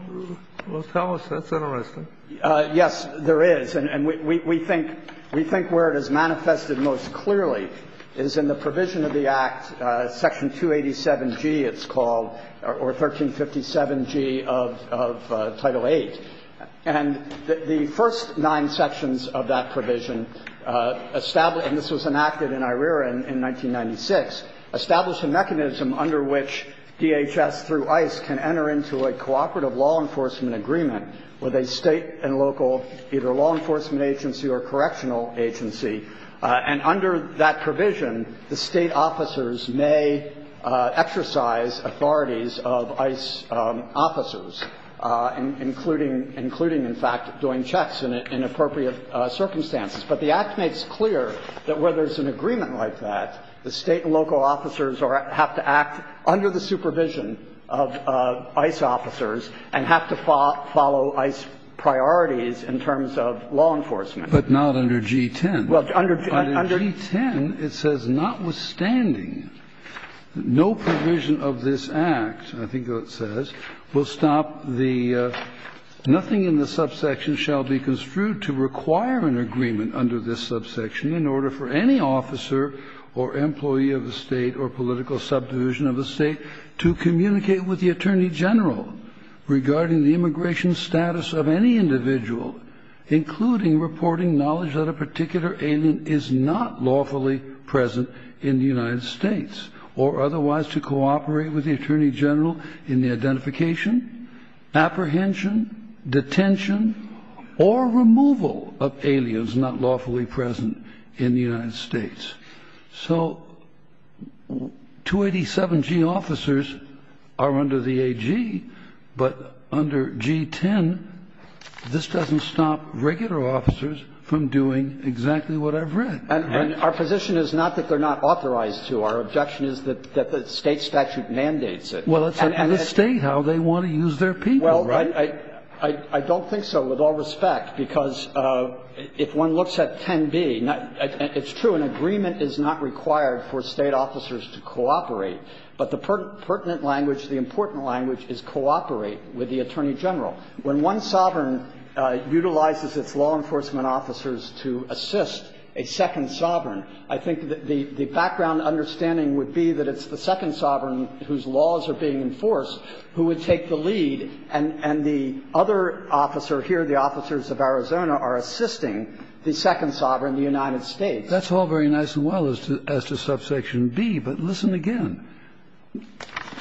tell us that's interesting? Yes, there is. And we think where it is manifested most clearly is in the provision of the Act, Section 287G, it's called, or 1357G of Title VIII. And the first nine sections of that provision established – and this was enacted in IREA in 1996 – established a mechanism under which DHS through ICE can enter into a cooperative law enforcement agreement with a State and local either law enforcement agency or correctional agency. And under that provision, the State officers may exercise authorities of ICE officers, including in fact doing checks in appropriate circumstances. But the Act makes clear that where there's an agreement like that, the State and local officers have to act under the supervision of ICE officers and have to follow ICE priorities in terms of law enforcement. But not under G-10. Well, under G-10, it says, notwithstanding, no provision of this Act, I think that it says, will stop the – nothing in the subsection shall be construed to require an agreement under this subsection in order for any officer or employee of the State or political subdivision of the State to communicate with the Attorney General regarding the immigration status of any individual, including reporting knowledge that a particular alien is not lawfully present in the United States, or otherwise to cooperate with the So 287G officers are under the AG, but under G-10, this doesn't stop regular officers from doing exactly what I've read. And our position is not that they're not authorized to. Our objection is that the State statute mandates it. Well, it's up to the State how they want to use their people, right? Well, I don't think so, with all respect, because it's not the State that's going to do it. If one looks at 10b, it's true, an agreement is not required for State officers to cooperate, but the pertinent language, the important language is cooperate with the Attorney General. When one sovereign utilizes its law enforcement officers to assist a second sovereign, I think that the background understanding would be that it's the second sovereign whose laws are being enforced who would take the lead, and the other officer here, the officers of Arizona, are assisting the second sovereign, the United States. That's all very nice and well as to subsection b, but listen again.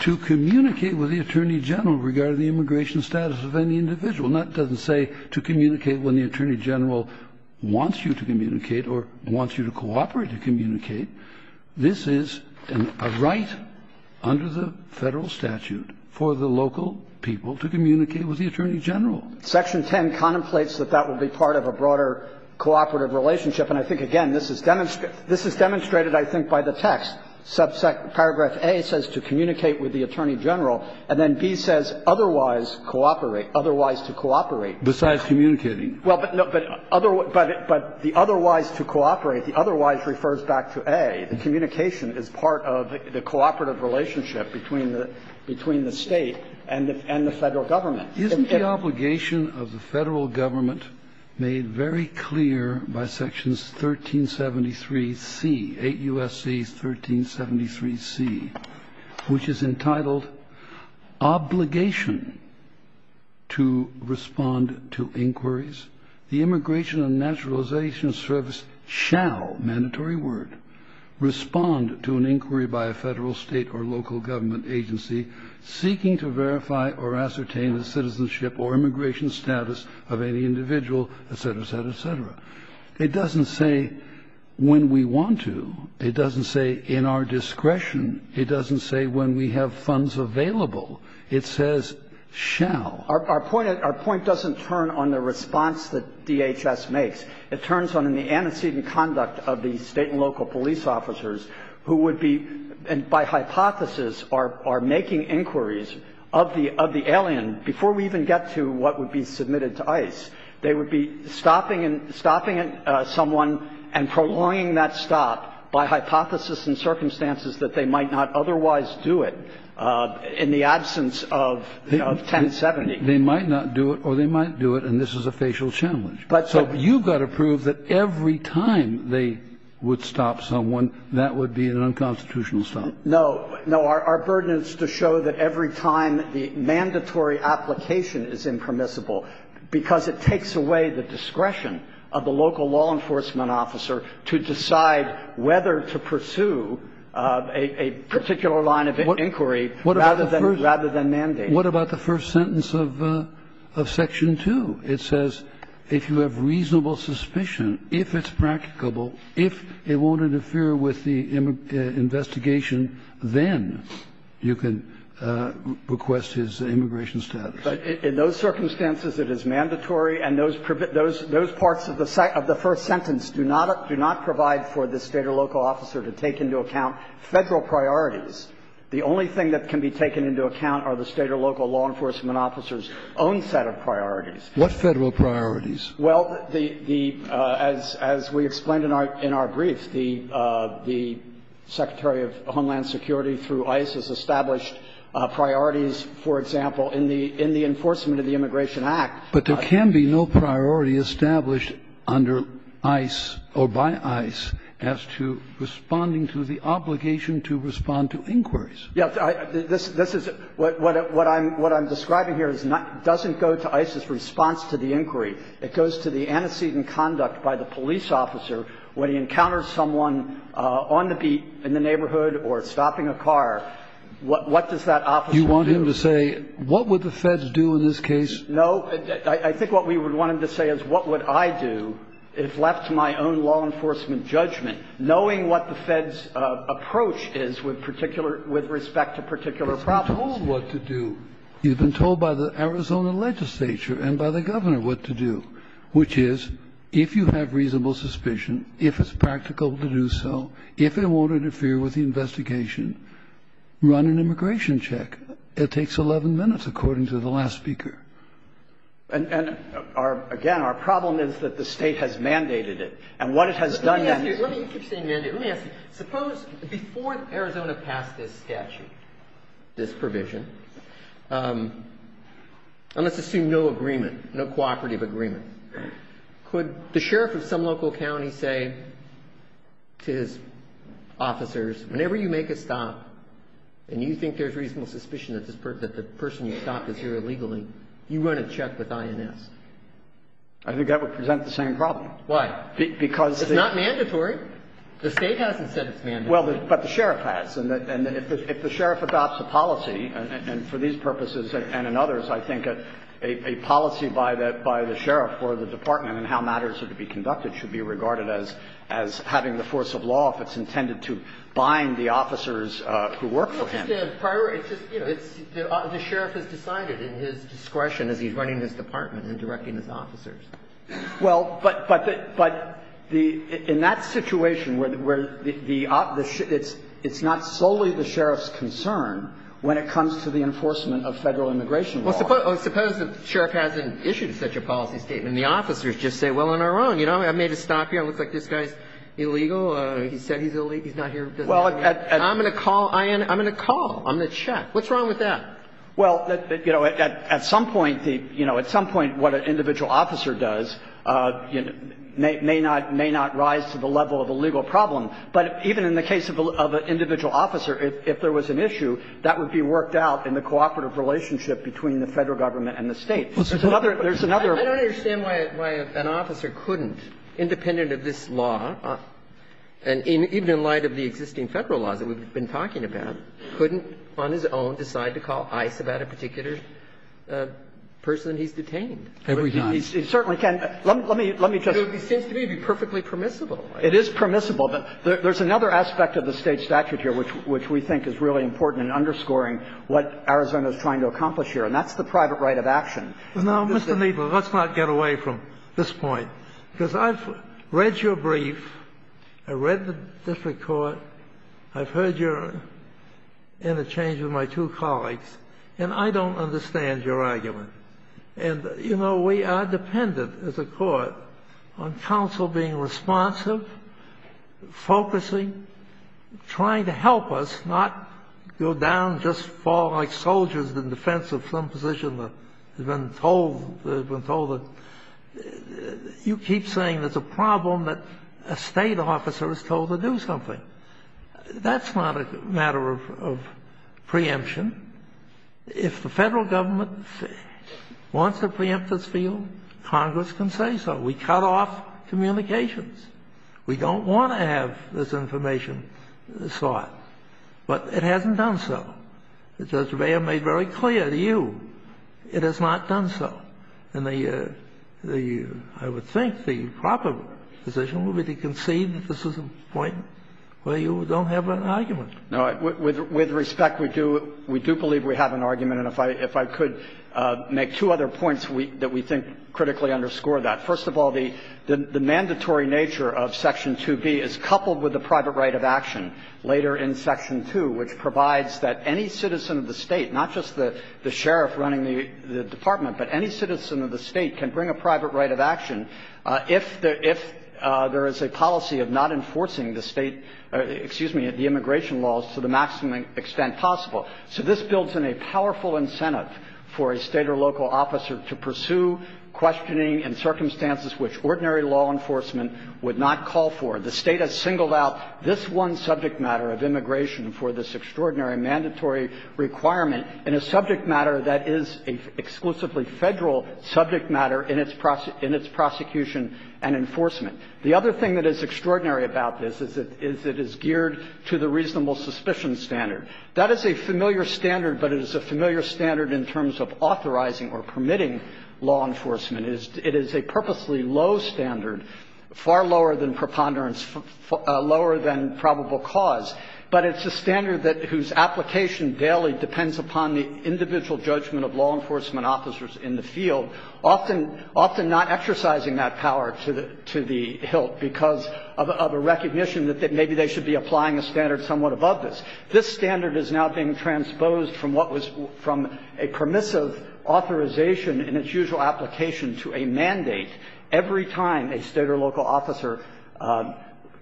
To communicate with the Attorney General regarding the immigration status of any individual doesn't say to communicate when the Attorney General wants you to communicate or wants you to cooperate to communicate. This is a right under the Federal statute for the local people to communicate with the Attorney General. Section 10 contemplates that that will be part of a broader cooperative relationship. And I think, again, this is demonstrated, I think, by the text. Paragraph a says to communicate with the Attorney General, and then b says otherwise cooperate, otherwise to cooperate. Kennedy, besides communicating. Well, but the otherwise to cooperate, the otherwise refers back to a. The communication is part of the cooperative relationship between the State and the Federal government. Isn't the obligation of the Federal government made very clear by sections 1373c, 8 U.S.C. 1373c, which is entitled obligation to respond to inquiries. The immigration and naturalization service shall, mandatory word, respond to an inquiry by a Federal, State, or local government agency seeking to verify or ascertain the citizenship or immigration status of any individual, et cetera, et cetera, et cetera. It doesn't say when we want to. It doesn't say in our discretion. It doesn't say when we have funds available. It says shall. Our point doesn't turn on the response that DHS makes. It turns on the antecedent conduct of the State and local police officers who would be, by hypothesis, are making inquiries of the alien before we even get to what would be submitted to ICE. They would be stopping someone and prolonging that stop by hypothesis and circumstances that they might not otherwise do it in the absence of 1070. They might not do it or they might do it, and this is a facial challenge. So you've got to prove that every time they would stop someone, that would be an unconstitutional stop. No. No. Our burden is to show that every time the mandatory application is impermissible because it takes away the discretion of the local law enforcement officer to decide whether to pursue a particular line of inquiry rather than mandate. What about the first sentence of section 2? It says if you have reasonable suspicion, if it's practicable, if it won't interfere with the investigation, then you can request his immigration status. But in those circumstances, it is mandatory, and those parts of the first sentence do not provide for the State or local officer to take into account Federal priorities. The only thing that can be taken into account are the State or local law enforcement officers' own set of priorities. What Federal priorities? Well, the as we explained in our brief, the Secretary of Homeland Security through ICE has established priorities, for example, in the enforcement of the Immigration Act. But there can be no priority established under ICE or by ICE as to responding to the obligation to respond to inquiries. Yes, this is what I'm describing here doesn't go to ICE's response to the inquiry. It goes to the antecedent conduct by the police officer when he encounters someone on the beat in the neighborhood or stopping a car, what does that officer do? You want him to say what would the Feds do in this case? No. I think what we would want him to say is what would I do if left to my own law enforcement judgment, knowing what the Feds' approach is with particular, with respect to particular problems. You've been told what to do. You've been told by the Arizona legislature and by the Governor what to do, which is if you have reasonable suspicion, if it's practical to do so, if it won't interfere with the investigation, run an immigration check. It takes 11 minutes, according to the last speaker. And again, our problem is that the State has mandated it. And what it has done now is to say, well, let me ask you, let me ask you, let me ask you, suppose before Arizona passed this statute, this provision, and let's assume no agreement, no cooperative agreement, could the sheriff of some local county say to his officers, whenever you make a stop and you think there's reasonable suspicion that the person you stopped is here illegally, you run a check with INS? I think that would present the same problem. Why? Because the It's not mandatory. The State hasn't said it's mandatory. Well, but the sheriff has. And if the sheriff adopts a policy, and for these purposes and in others, I think a policy by the sheriff or the department on how matters are to be conducted should be regarded as having the force of law if it's intended to bind the officers who work for him. It's just a priority. It's just, you know, the sheriff has decided in his discretion as he's running this department and directing his officers. Well, but the In that situation where the It's not solely the sheriff's concern when it comes to the enforcement of Federal immigration law. Well, suppose the sheriff hasn't issued such a policy statement. And the officers just say, well, on our own, you know, I made a stop here. It looks like this guy's illegal. He said he's not here. I'm going to call INS. I'm going to call. I'm going to check. What's wrong with that? Well, you know, at some point, the, you know, at some point what an individual officer does, you know, may not rise to the level of a legal problem, but even in the case of an individual officer, if there was an issue, that would be worked out in the cooperative relationship between the Federal government and the State. There's another I don't understand why an officer couldn't, independent of this law, and even in light of the existing Federal laws that we've been talking about, couldn't on his own decide to call ICE about a particular person he's detained? He certainly can't. Let me, let me just. It seems to me to be perfectly permissible. It is permissible. There's another aspect of the State statute here which we think is really important in underscoring what Arizona is trying to accomplish here, and that's the private right of action. Now, Mr. Kneedler, let's not get away from this point, because I've read your brief. I read the district court. I've heard your interchange with my two colleagues, and I don't understand your argument, and, you know, we are dependent, as a court, on counsel being responsive, focusing, trying to help us not go down just fall like soldiers in defense of some position that has been told, that has been told that. You keep saying there's a problem that a State officer is told to do something. That's not a matter of preemption. If the Federal government wants to preempt this field, Congress can say so. We cut off communications. We don't want to have this information sought, but it hasn't done so. The judge may have made very clear to you, it has not done so. And the – I would think the proper decision would be to concede that this is a point where you don't have an argument. Kneedler, With respect, we do believe we have an argument, and if I could make two other points that we think critically underscore that. First of all, the mandatory nature of Section 2B is coupled with the private right of action later in Section 2, which provides that any citizen of the State, not just the sheriff running the department, but any citizen of the State can bring a private right of action if there is a policy of not enforcing the State – excuse me, the immigration laws to the maximum extent possible. So this builds in a powerful incentive for a State or local officer to pursue questioning in circumstances which ordinary law enforcement would not call for. The State has singled out this one subject matter of immigration for this extraordinary mandatory requirement in a subject matter that is an exclusively Federal subject matter in its prosecution and enforcement. The other thing that is extraordinary about this is it is geared to the reasonable suspicion standard. That is a familiar standard, but it is a familiar standard in terms of authorizing or permitting law enforcement. It is a purposely low standard, far lower than preponderance, lower than probable cause, but it's a standard that – whose application daily depends upon the individual judgment of law enforcement officers in the field, often not exercising that power to the hilt because of a recognition that maybe they should be applying a standard somewhat above this. This standard is now being transposed from what was – from a permissive authorization in its usual application to a mandate every time a State or local officer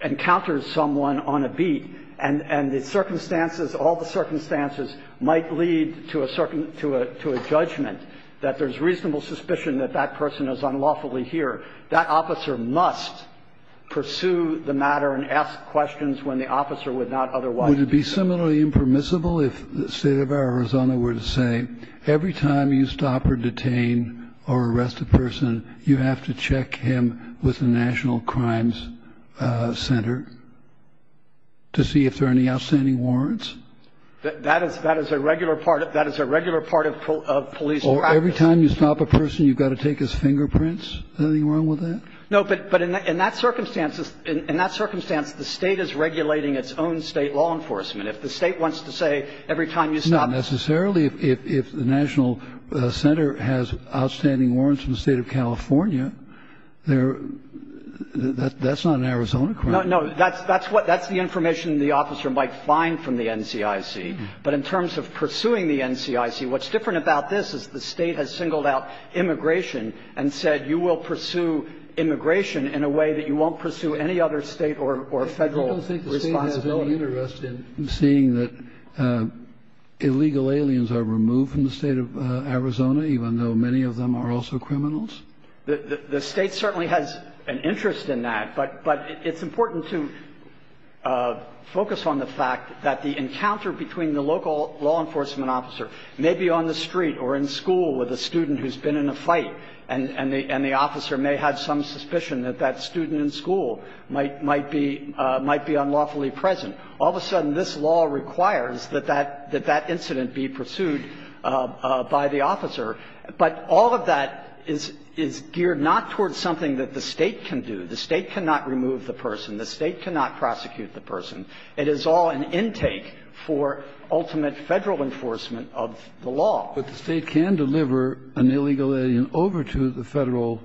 encounters someone on a beat, and the circumstances, all the circumstances might lead to a judgment that there's reasonable suspicion that that person is unlawfully here. That officer must pursue the matter and ask questions when the officer would not otherwise do so. Kennedy. Would it be similarly impermissible if the State of Arizona were to say, every time you stop or detain or arrest a person, you have to check him with the National Crimes Center? To see if there are any outstanding warrants? That is a regular part of police practice. Or every time you stop a person, you've got to take his fingerprints? Is there anything wrong with that? No, but in that circumstance, the State is regulating its own State law enforcement. If the State wants to say every time you stop a person. Not necessarily. If the National Center has outstanding warrants from the State of California, that's not an Arizona crime. No, that's the information the officer might find from the NCIC. But in terms of pursuing the NCIC, what's different about this is the State has singled out immigration and said you will pursue immigration in a way that you won't pursue any other State or Federal responsibility. I don't think the State has any interest in seeing that illegal aliens are removed from the State of Arizona, even though many of them are also criminals? The State certainly has an interest in that, but it's important to focus on the fact that the encounter between the local law enforcement officer, maybe on the street or in school with a student who's been in a fight, and the officer may have some suspicion that that student in school might be unlawfully present. All of a sudden, this law requires that that incident be pursued by the officer. But all of that is geared not towards something that the State can do. The State cannot remove the person. The State cannot prosecute the person. It is all an intake for ultimate Federal enforcement of the law. But the State can deliver an illegal alien over to the Federal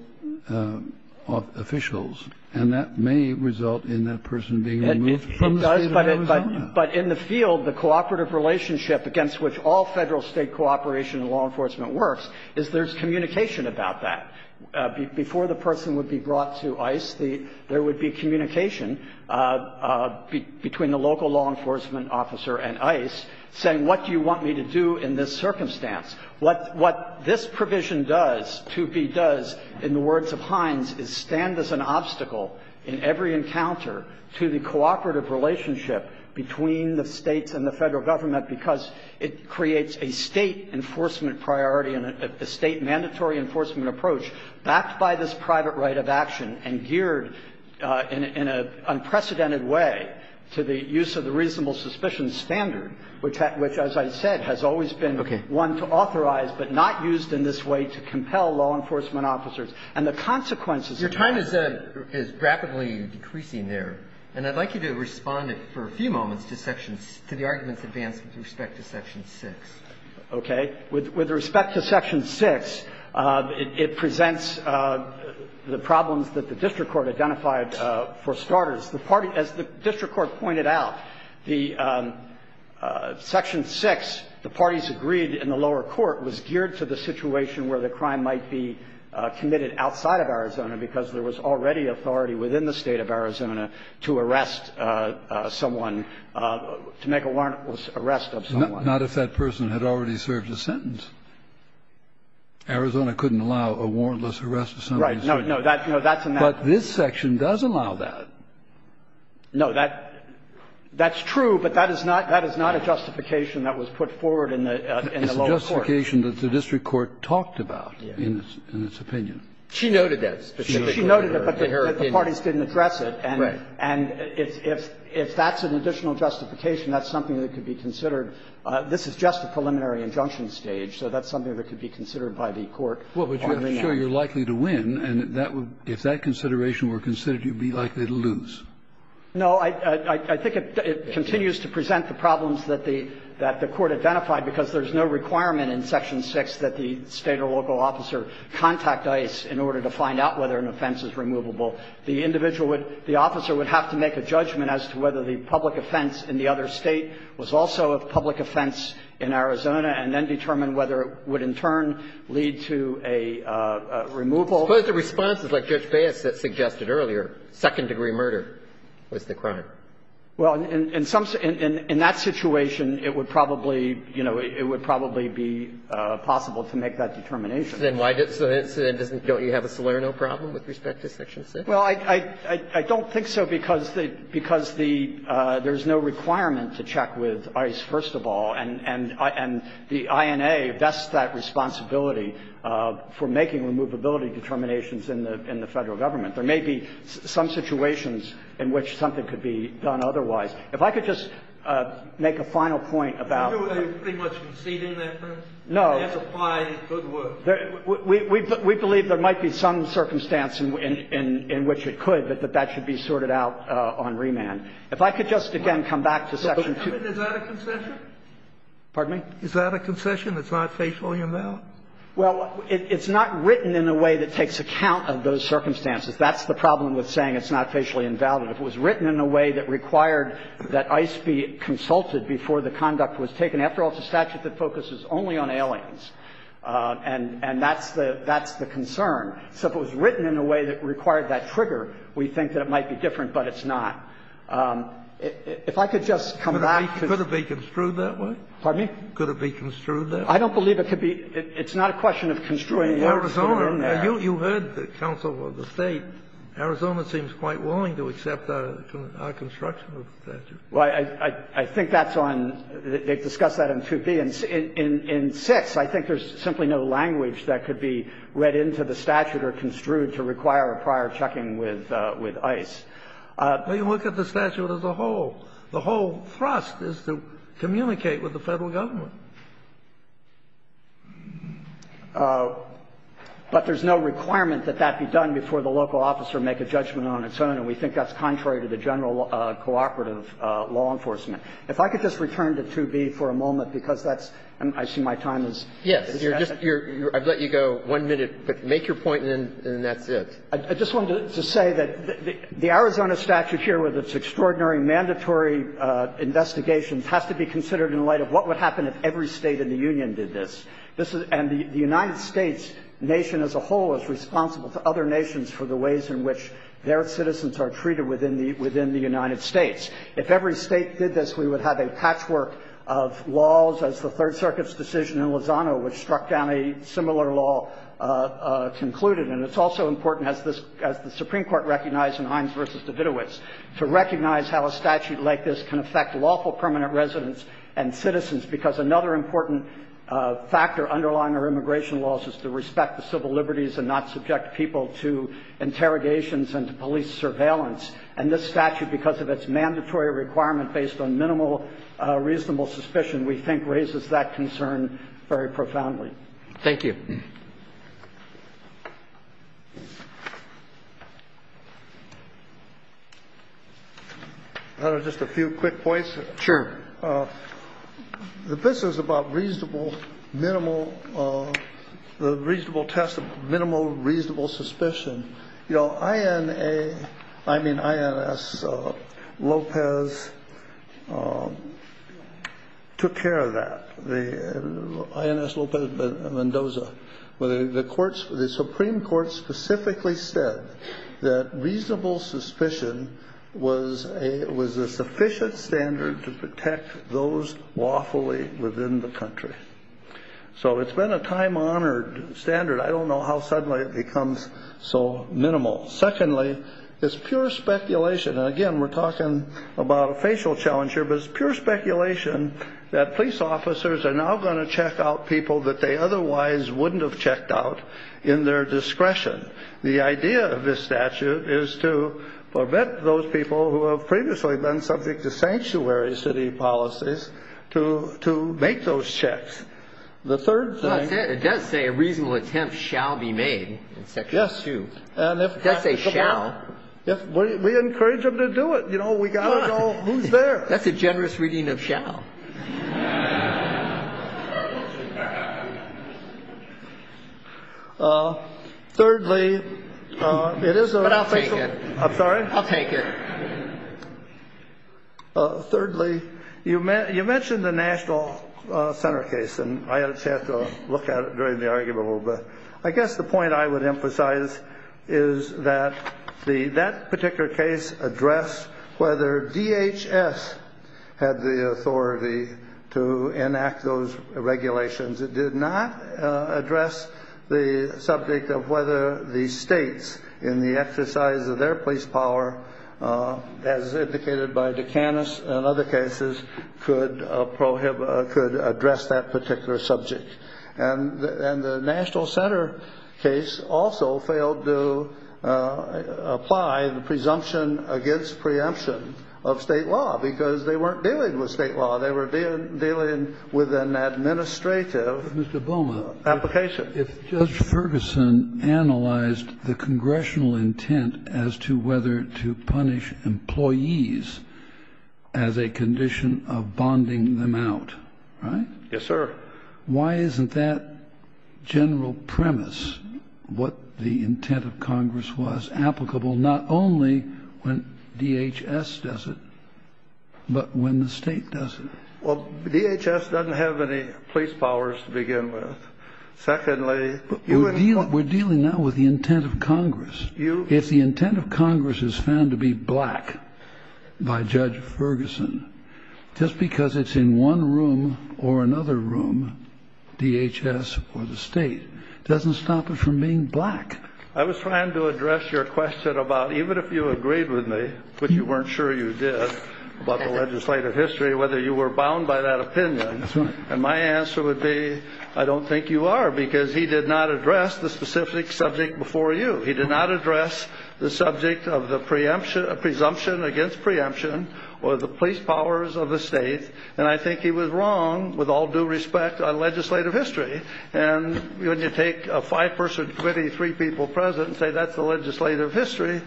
officials, and that may result in that person being removed from the State of Arizona. But in the field, the cooperative relationship against which all Federal-State cooperation in law enforcement works is there's communication about that. Before the person would be brought to ICE, there would be communication between the local law enforcement officer and ICE saying, what do you want me to do in this circumstance? What this provision does, 2B does, in the words of Hines, is stand as an obstacle in every encounter to the cooperative relationship between the States and the Federal government, because it creates a State enforcement priority and a State mandatory enforcement approach backed by this private right of action and geared in an unprecedented way to the use of the reasonable suspicion standard, which, as I said, has always been one to authorize but not used in this way to compel law enforcement officers. And the consequences of that are the following. And I'd like you to respond, for a few moments, to the arguments advanced with respect to Section 6. Okay. With respect to Section 6, it presents the problems that the district court identified for starters. The party, as the district court pointed out, the Section 6, the parties agreed in the lower court, was geared to the situation where the crime might be committed outside of Arizona, because there was already authority within the State of Arizona to arrest someone, to make a warrantless arrest of someone. Not if that person had already served a sentence. Arizona couldn't allow a warrantless arrest of somebody's sentence. Right. No, no, that's a matter of fact. But this section does allow that. No, that's true, but that is not a justification that was put forward in the lower court. It's a justification that the district court talked about in its opinion. She noted that specifically in her opinion. She noted it, but the parties didn't address it. Right. And if that's an additional justification, that's something that could be considered. This is just a preliminary injunction stage, so that's something that could be considered by the court. Well, but you're sure you're likely to win, and that would be, if that consideration were considered, you'd be likely to lose. No, I think it continues to present the problems that the court identified, because there's no requirement in Section 6 that the State or local officer contact the District Court in order to find out whether an offense is removable. The individual would – the officer would have to make a judgment as to whether the public offense in the other State was also a public offense in Arizona, and then determine whether it would, in turn, lead to a removal. Suppose the response is like Judge Baez suggested earlier, second-degree murder was the crime. Well, in some – in that situation, it would probably, you know, it would probably be possible to make that determination. Then why does – so then doesn't – don't you have a Salerno problem with respect to Section 6? Well, I – I don't think so, because the – because the – there's no requirement to check with ICE, first of all, and the INA vests that responsibility for making removability determinations in the Federal Government. There may be some situations in which something could be done otherwise. If I could just make a final point about the – You're pretty much conceding that, then? No. We believe there might be some circumstance in which it could, but that that should be sorted out on remand. If I could just again come back to Section 2. Is that a concession? Pardon me? Is that a concession? It's not facially invalid? Well, it's not written in a way that takes account of those circumstances. That's the problem with saying it's not facially invalid. If it was written in a way that required that ICE be consulted before the conduct was taken, after all, it's a statute that focuses only on aliens, and that's the – that's the concern. So if it was written in a way that required that trigger, we think that it might be different, but it's not. If I could just come back to the – Could it be construed that way? Pardon me? Could it be construed that way? I don't believe it could be. It's not a question of construing the order to put it in there. You heard the counsel of the State. Arizona seems quite willing to accept our construction of the statute. Well, I think that's on – they've discussed that in 2B. In 6, I think there's simply no language that could be read into the statute or construed to require a prior checking with ICE. But you look at the statute as a whole. The whole thrust is to communicate with the Federal Government. But there's no requirement that that be done before the local officer make a judgment on its own. And we think that's contrary to the general cooperative law enforcement. If I could just return to 2B for a moment, because that's – I see my time is – Yes, you're just – I've let you go one minute. But make your point, and then that's it. I just wanted to say that the Arizona statute here, with its extraordinary mandatory investigations, has to be considered in light of what would happen if every State in the Union did this. And the United States nation as a whole is responsible to other nations for the ways in which their citizens are treated within the – within the United States. If every State did this, we would have a patchwork of laws, as the Third Circuit's decision in Lozano, which struck down a similar law, concluded. And it's also important, as this – as the Supreme Court recognized in Hines v. Davidowitz, to recognize how a statute like this can affect lawful permanent residents and citizens, because another important factor underlying our immigration laws is to respect the civil liberties and not subject people to interrogations and to police surveillance. And this statute, because of its mandatory requirement based on minimal reasonable suspicion, we think raises that concern very profoundly. Thank you. Just a few quick points. Sure. The – this is about reasonable, minimal – the reasonable test of minimal reasonable suspicion. You know, INA – I mean, INS Lopez took care of that, the – INS Lopez Mendoza. The courts – the Supreme Court specifically said that reasonable suspicion was a – was a sufficient standard to protect those lawfully within the country. So it's been a time-honored standard. I don't know how suddenly it becomes so minimal. Secondly, it's pure speculation – and again, we're talking about a facial challenge here – but it's pure speculation that police officers are now going to check out people that they otherwise wouldn't have checked out in their discretion. The idea of this statute is to prevent those people who have previously been subject to sanctuary city policies to make those checks. The third thing – It does say a reasonable attempt shall be made in Section 2. Yes. And if – It does say shall. Yes. We encourage them to do it. That's a generous reading of shall. Thirdly, it is a – But I'll take it. I'm sorry? I'll take it. Thirdly, you mentioned the National Center case, and I just had to look at it during the argument a little bit. I guess the point I would emphasize is that the – that particular case addressed whether the DHS had the authority to enact those regulations. It did not address the subject of whether the states, in the exercise of their police power, as indicated by Dukanis and other cases, could address that particular subject. And the National Center case also failed to apply the presumption against preemption of state law, because they weren't dealing with state law. They were dealing with an administrative – Mr. Bowman. – application. If Judge Ferguson analyzed the congressional intent as to whether to punish employees as a condition of bonding them out, right? Yes, sir. Why isn't that general premise, what the intent of Congress was, applicable not only when DHS does it, but when the state does it? Well, DHS doesn't have any police powers to begin with. Secondly – But we're dealing now with the intent of Congress. If the intent of Congress is found to be black by Judge Ferguson, just because it's in one room or another room, DHS or the state, doesn't stop it from being black. I was trying to address your question about, even if you agreed with me, which you weren't sure you did, about the legislative history, whether you were bound by that opinion. And my answer would be, I don't think you are, because he did not address the specific subject before you. He did not address the subject of the presumption against preemption or the police powers of the state. And I think he was wrong, with all due respect, on legislative history. And when you take a five-person committee, three people present, and say that's the legislative history,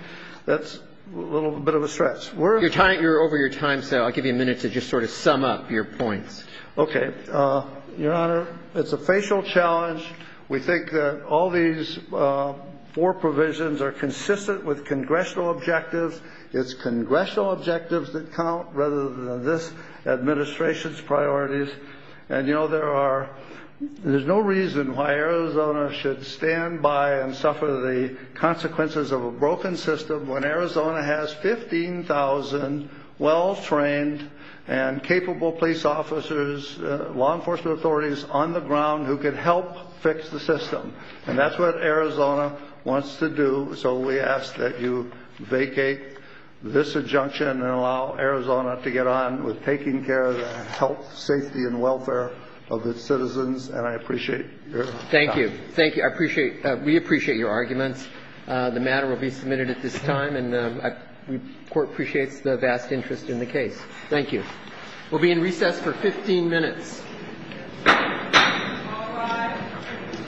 that's a little bit of a stretch. We're – Your time – you're over your time, so I'll give you a minute to just sort of sum up your points. Okay. Your Honor, it's a facial challenge. We think that all these four provisions are consistent with congressional objectives. It's congressional objectives that count, rather than this administration's priorities. And you know, there are – there's no reason why Arizona should stand by and suffer the consequences of a broken system when Arizona has 15,000 well-trained and capable police officers, law enforcement authorities, on the ground who can help fix the system. And that's what Arizona wants to do. So we ask that you vacate this adjunction and allow Arizona to get on with taking care of the health, safety, and welfare of its citizens, and I appreciate your time. Thank you. Thank you. I appreciate – we appreciate your arguments. The matter will be submitted at this time, and the Court appreciates the vast interest in the case. Thank you. We'll be in recess for 15 minutes.